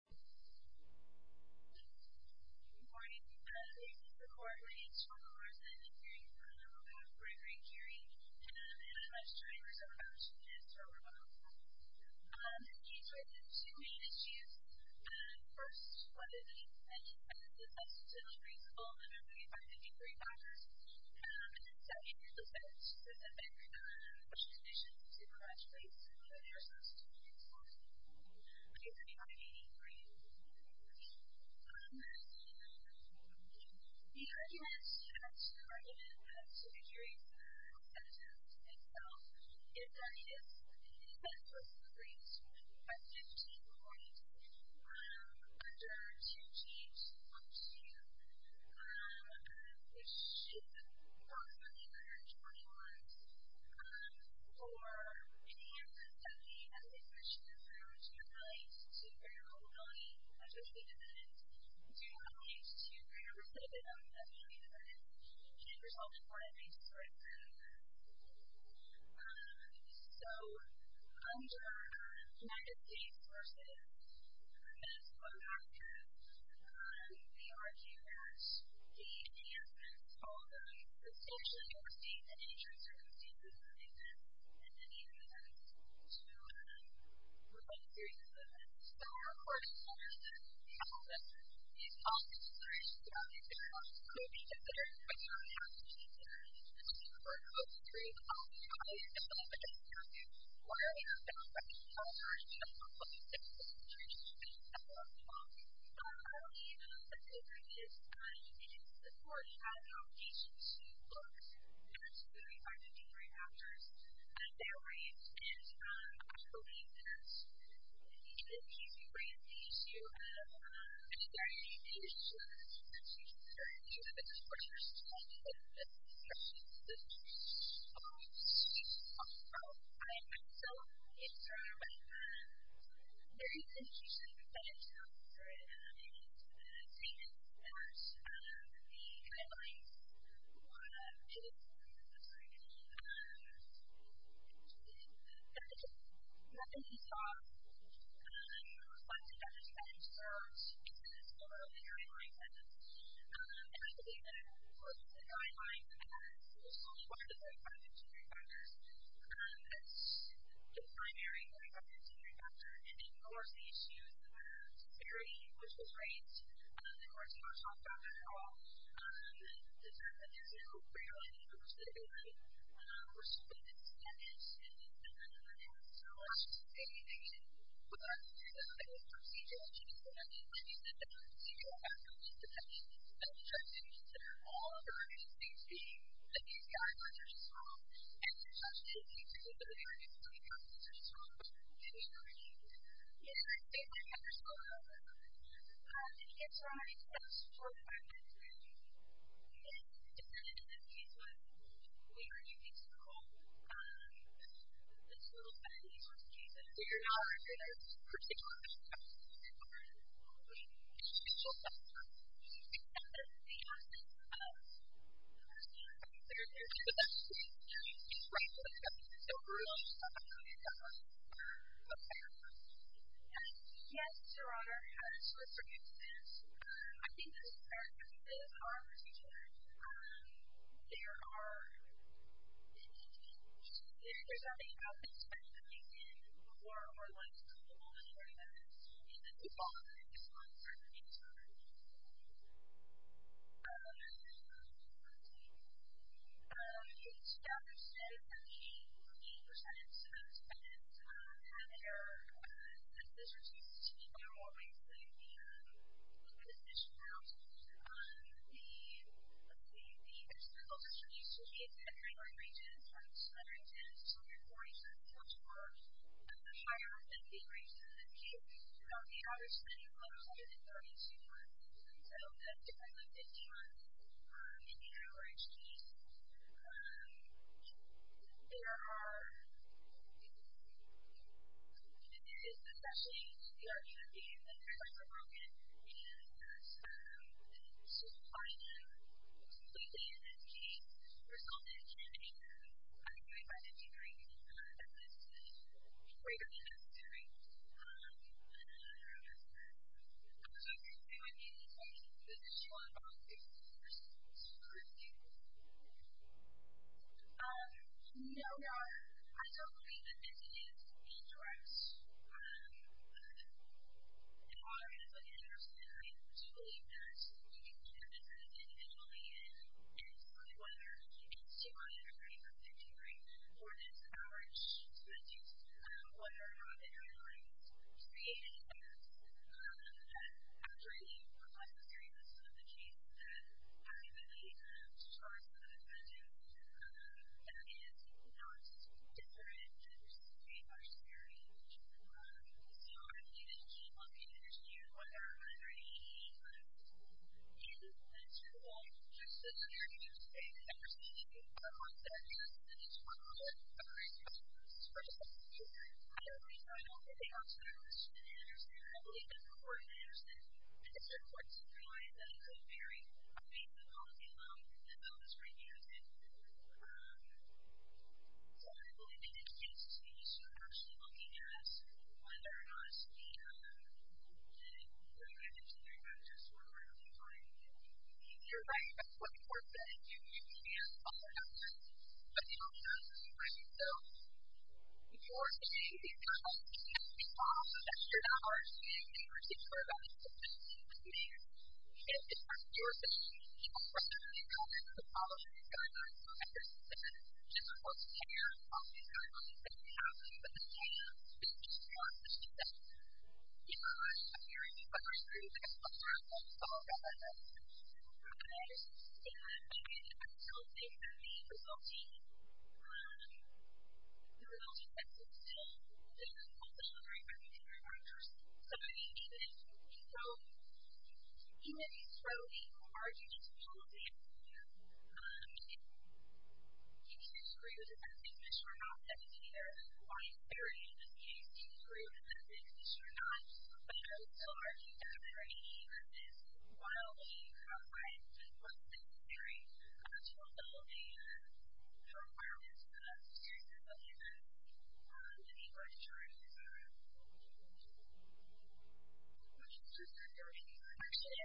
Good morning. This is the Coordinating School of Law, and I'm here in front of Gregory Curie, and I'm going to talk to you a little bit about his role in the law school. He's raised two main issues. First, one of these, and this has to do with the principle that everybody has to be great lawyers. And then second, there's a specific condition to graduate school if you're supposed to be an excellent lawyer. Basically, by being great lawyers. The argument that Gregory's sentence itself is that he is, in essence, supposed to be great. By 1540, under two chiefs of chiefs issued approximately 120 laws. For many years of his time, he has distinguished himself as being related to greater culpability as being independent, as being related to greater recidivism as being independent, and resulted in what I think is sort of a... So, under the United States versus Minnesota argument, the argument that he, in essence, told the station of your state that any trans-circumstances would exist, and that any of those exist would be able to reflect a series of events. So, of course, it's understood that all of this, all of these considerations, all of these considerations could be considered, but you don't have to consider them. You don't have to go through all of these kinds of discussions, where there's no right or wrong. You don't have to go through all of these things. You don't have to go through all of these things. So, the argument that Gregory is in support of how your agency looks, in regards to the Department of Human Rights Actors, that they're in support of these, and I believe that he's right on the issue of whether there are any issues that you have expressed in terms of the issues that you've talked about. I, myself, am from various institutions that have come through and seen, of course, the guidelines and what it is that we're supposed to be doing. There's nothing that stops us from understanding that there are instances where there are guidelines, and I believe that, of course, there's a guideline that has only one of the three primary injury factors. That's the primary injury factor, and, of course, the issues were security, which was something that's now rarely understood, or something that's not understood in the Department of Human Rights. So, I just think that, again, with our new legal procedure, which is going to be implemented in many of the federal agencies, I think that that's going to be something that we should be considering. All of our agencies, being that these guidelines are strong, and there's such a need to look at the various legalities that are strong, and we need to, you know, understand that there's some of that. Yes, Your Honor, I just want to add that, you know, depending on the case law, we are using this code, this little set of legal excuses. So, you're not under the procedural exception? No, Your Honor. Okay. It's a procedural exception? Yes, Your Honor. Okay. So, that is the essence of the procedure. Okay. So, there's no exception to that? No, Your Honor. Right. So, there's nothing that's overruled? No, Your Honor. Okay. Yes, Your Honor, I just want to suggest this. I think that, as far as the procedure, there are, there's something about the expenditure that we can do more or less to the law than any other agency. Okay. And then, we follow the legislation on certain things. Okay. Okay. So, I'm going to be talking about the power of the power exchange. There are, and this is especially the argument being that the power of the broken is to find a completely in-depth case, result in a candidate who, I think, may find a degree that is greater than necessary. I'm not sure if you agree with me on this, but does anyone want to go first? No, I don't think that this is a direct argument, but I do believe that we can judge this individually in terms of whether it's too high a degree for victory for this power exchange, whether or not it highlights the in-depth and actually what was the seriousness of the case that ultimately caused the decision that is not different versus a much scarier outcome. So, I believe that we can look at it as a unit of whether or not there are any issues that are involved. I'm just going to say that I understand that you are on the other end of the spectrum, and it's one of the reasons that this is very important to you. I don't think that I'm going to be outside of this unit of understanding. I believe that the core of the understanding is that it's important to realize that it's a very meaningful policy alone and that those reviews and political and economic cases that you're actually looking at, whether or not it's a shared one, it's really going to determine just where we're going to be going. You're right. That's what the court said. You can't follow that one, but you don't have to, right? So, you are saying that the economy can't be lost. That's true. That's our understanding. That's what the court said. That's what the court said. That's what the court said. And it's part of the jurisdiction. It's not part of the economy. It's a policy. It's going to be a policy. That's what the court said. I'm sorry. I don't think that we have to, but the state has to be in charge to do that. You know, I'm hearing you, but I agree with you. That's what the court said. That's what the court said. That's what the court said. And I think that the consulting and the consulting, the consulting and the consulting are very different branches. So, I mean, even if, you know, even if you throw the margins of consulting out there, you can't agree with the best case measure or not. That's either a white barrier in this case, you can agree with the best case measure or not. But I would still argue that there are any, even this wildly outright, just one-size-fits-all barrier to a whole range of requirements for the seriousness of the law, the need for insurance, et cetera. Thank you. Thank you. I appreciate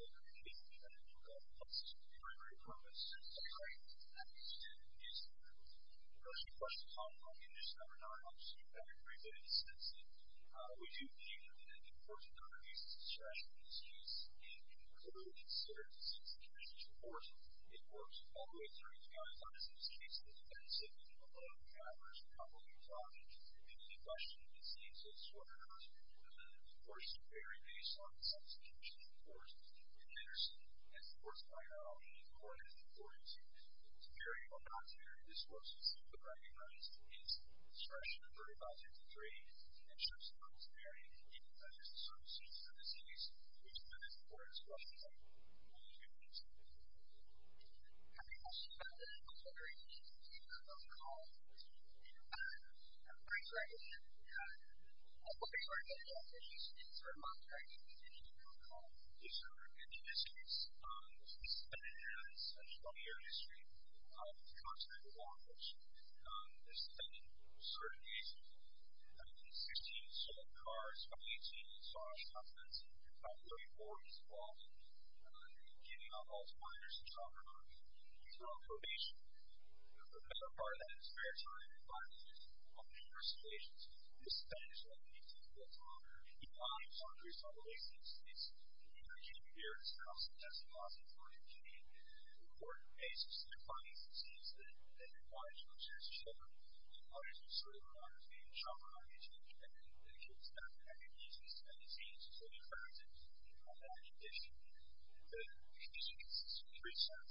it. Thank you. Thank you. Thank you. Thank you. Thank you. Thank you. I'm going to start with a short part of that, and spare time to talk a little bit about the first stations. This is a Spanish-language piece. It talks about the lives of these populations. It's in the United States of America, it's in Austin, Texas, Austin, Florida, Virginia. It's an important piece. It defines the scenes that the bodies of those children, the bodies of certain survivors, may have been shot or mutilated. And the way to explain that is to use these kind of scenes to sort of translate it into that condition. The piece consists of three sentences. I want to watch. I want to watch. I want to watch. I want to watch. I want to watch. The idea is to translate it into a condition that's focused on the murders of survivors, which is what I'm going to be talking about, which is why it's at a highlight of our interview. We're going to be talking about who is involved in the murder, what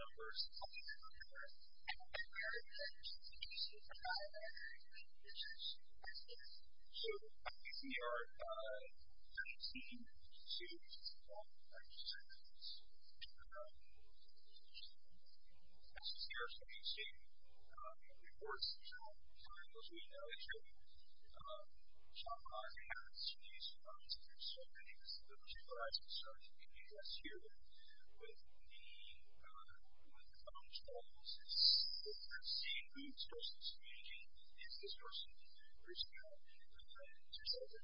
numbers, how many people are there, and then we're going to have a conversation about how that information is collected. So, I think we are 19 students, if I'm not mistaken. As you can see in the reports, as far as we know, it's true. Shanghai happens to use phones. There are so many civil rights concerns in the U.S. here. With the phone calls, it's different. Seeing who's person is speaking, is this person. So, the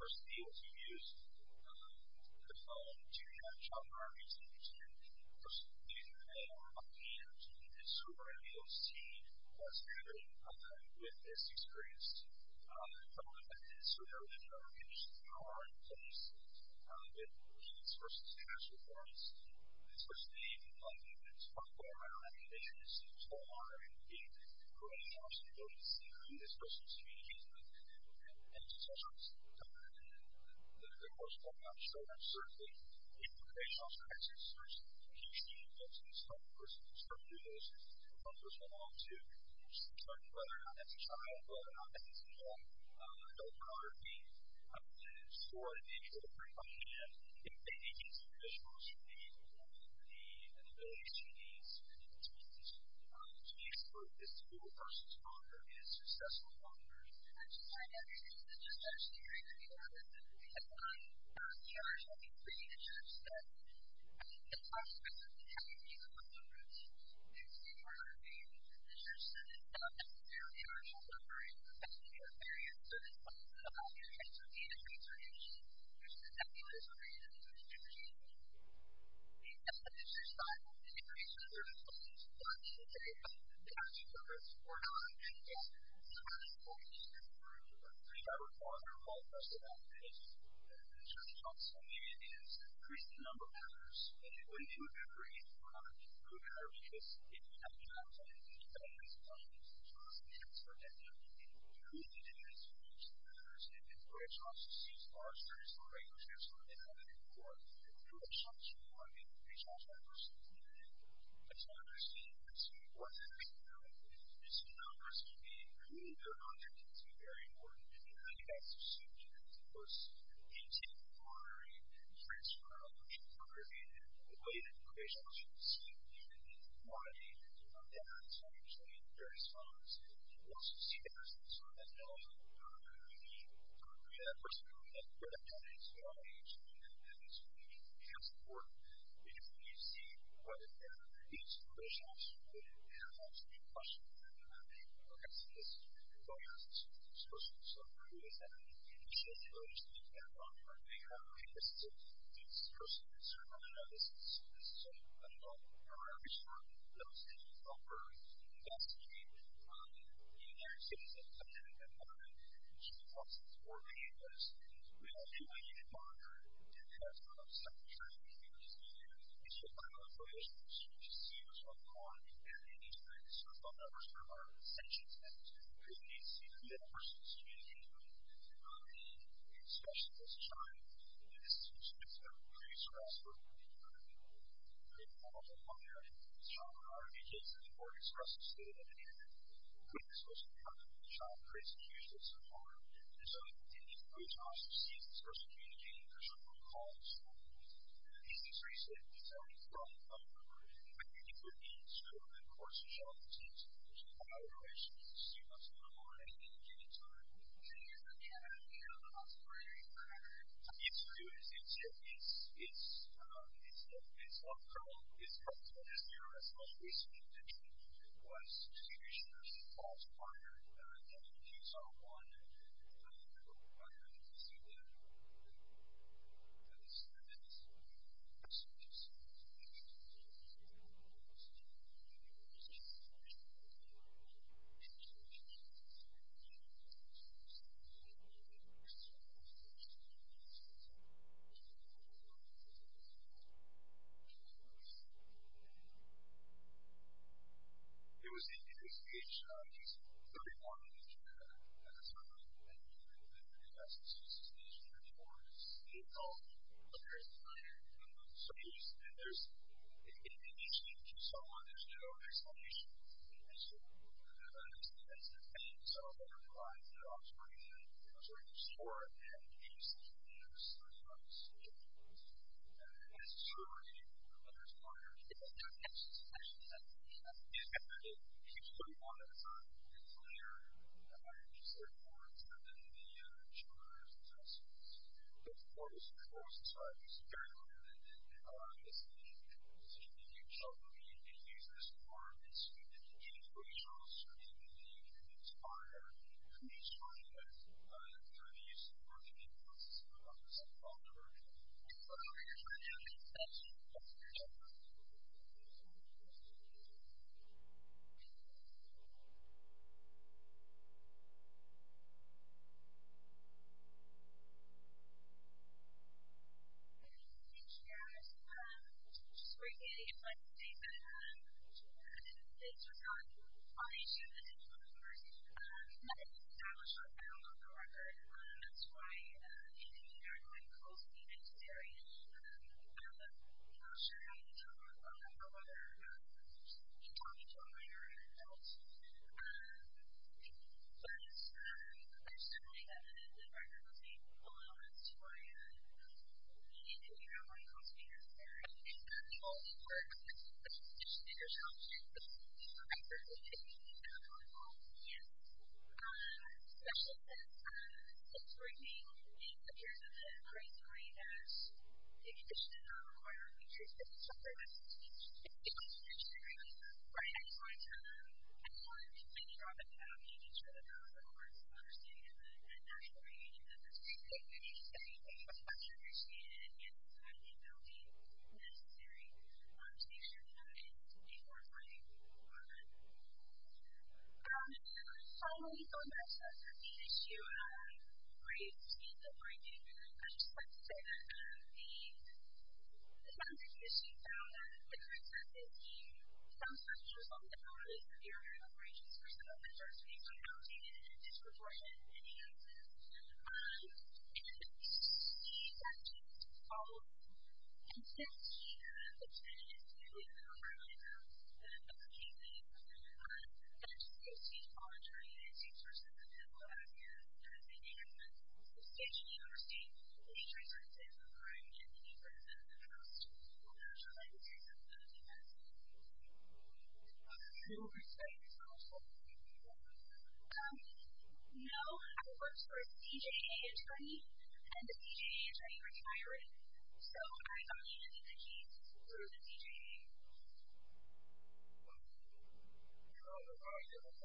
person being able to use the phone to shop for items in the kitchen, the person being able to call on the Internet, so we're going to be able to see what's happening with this experience. So, we know that there are conditions that are in place. There have been collisions versus crash reports. This person being able to call on the Internet, so we know that there are conditions that are in place for this person to be able to use the Internet. And, in the course we're going to be talking about how that's certainly the case, how it's a crisis, there's a huge need for this person to start to do those things, and to start to learn how to use the Internet, whether that's a child, whether that's a parent, how to use teleconferencing, how to store information, if they need to, there's also the availability of CDs, so that's one piece of the puzzle. So, the case for this to be a person's father is successful fatherhood. I just want to add, it's just such a great idea, because there are so many great initiatives, and it's also great that we have these people on the ground, so we can be a part of the initiatives, and there are so many areas, especially in the health area, so there's plenty of different kinds of data transfer issues, there's the nebulous or the distribution issue, there's the ethnicity side of it, there's the racial and religious issues, there's the black and gay, there's the domestic violence, there's the foreign and indigenous, there's the family and the organization, there's the group, there's the private and private-sector, there's the whole bunch of that, and there's the whole bunch of that. The challenge also, again, is increasing the number of users, and it wouldn't be a great program, because if you have jobs, and you have families, and you have jobs, and you have a certificate, and you're really dedicated to those matters, and your jobs are serious, your relationships are important, your relationships are important, and your relationships are important, it's not just the frequency, it's the importance of the people you're working with, it's the numbers, and being really good on your kids is very important, and I think that's a subject that's worth intending for, and transferring, and incorporating, and the way that relationships and the quality of the internet are actually very strong, I think, personally, going through an implementation, going through an implementation, and seeing them really as important, we see whether their institutions really have to be pushed and practiced in areas of social enges to show the low-income background the association, it's a real in effect mission and that's very important. So, you know, you can't just let it happen and keep the process working because we all do what we can to monitor and we do test and we're all psychotropic. And, it's the final information that you're supposed to see what's going on and any time you start talking about what's going on and the sanctions that are being put in place, you see the real person is communicating and not being, especially at this time, the institutions that are pretty stressed and are really working hard to be able to make that all go higher and to be stronger and to be able to support and stress the student and to be able to make the social impact of the shock crazy huge that's so hard. And so, you need to be able to also see the social communication and the social recall as well. And, this is recent, it's only from when people need to of course to show up and to evaluate students in the morning and give them time and continue to try to figure out what's going on. It's, it's, it's, it's, it's, it's from from when there was a recent event that was two years prior that you saw one who I can see there who is the minister of social safety and health and social inclusion and social inclusion and social Leanna tonight. going for three weeks ago called Social Awareness Month. So this we're looking at is the discussion of the use of working people to support us in our work. So this is the discussion of social awareness month. So this is the discussion of social awareness month. So we're considering this need to it's know that this actually explains the needs of our multicultural communities and helps us protect our environment and environment and our environment and our environment our ecosystem across multicultural and multigenerational communities and our land and our water and our healthy and healthy ecosystem ecosystem around the Earth. Thank you.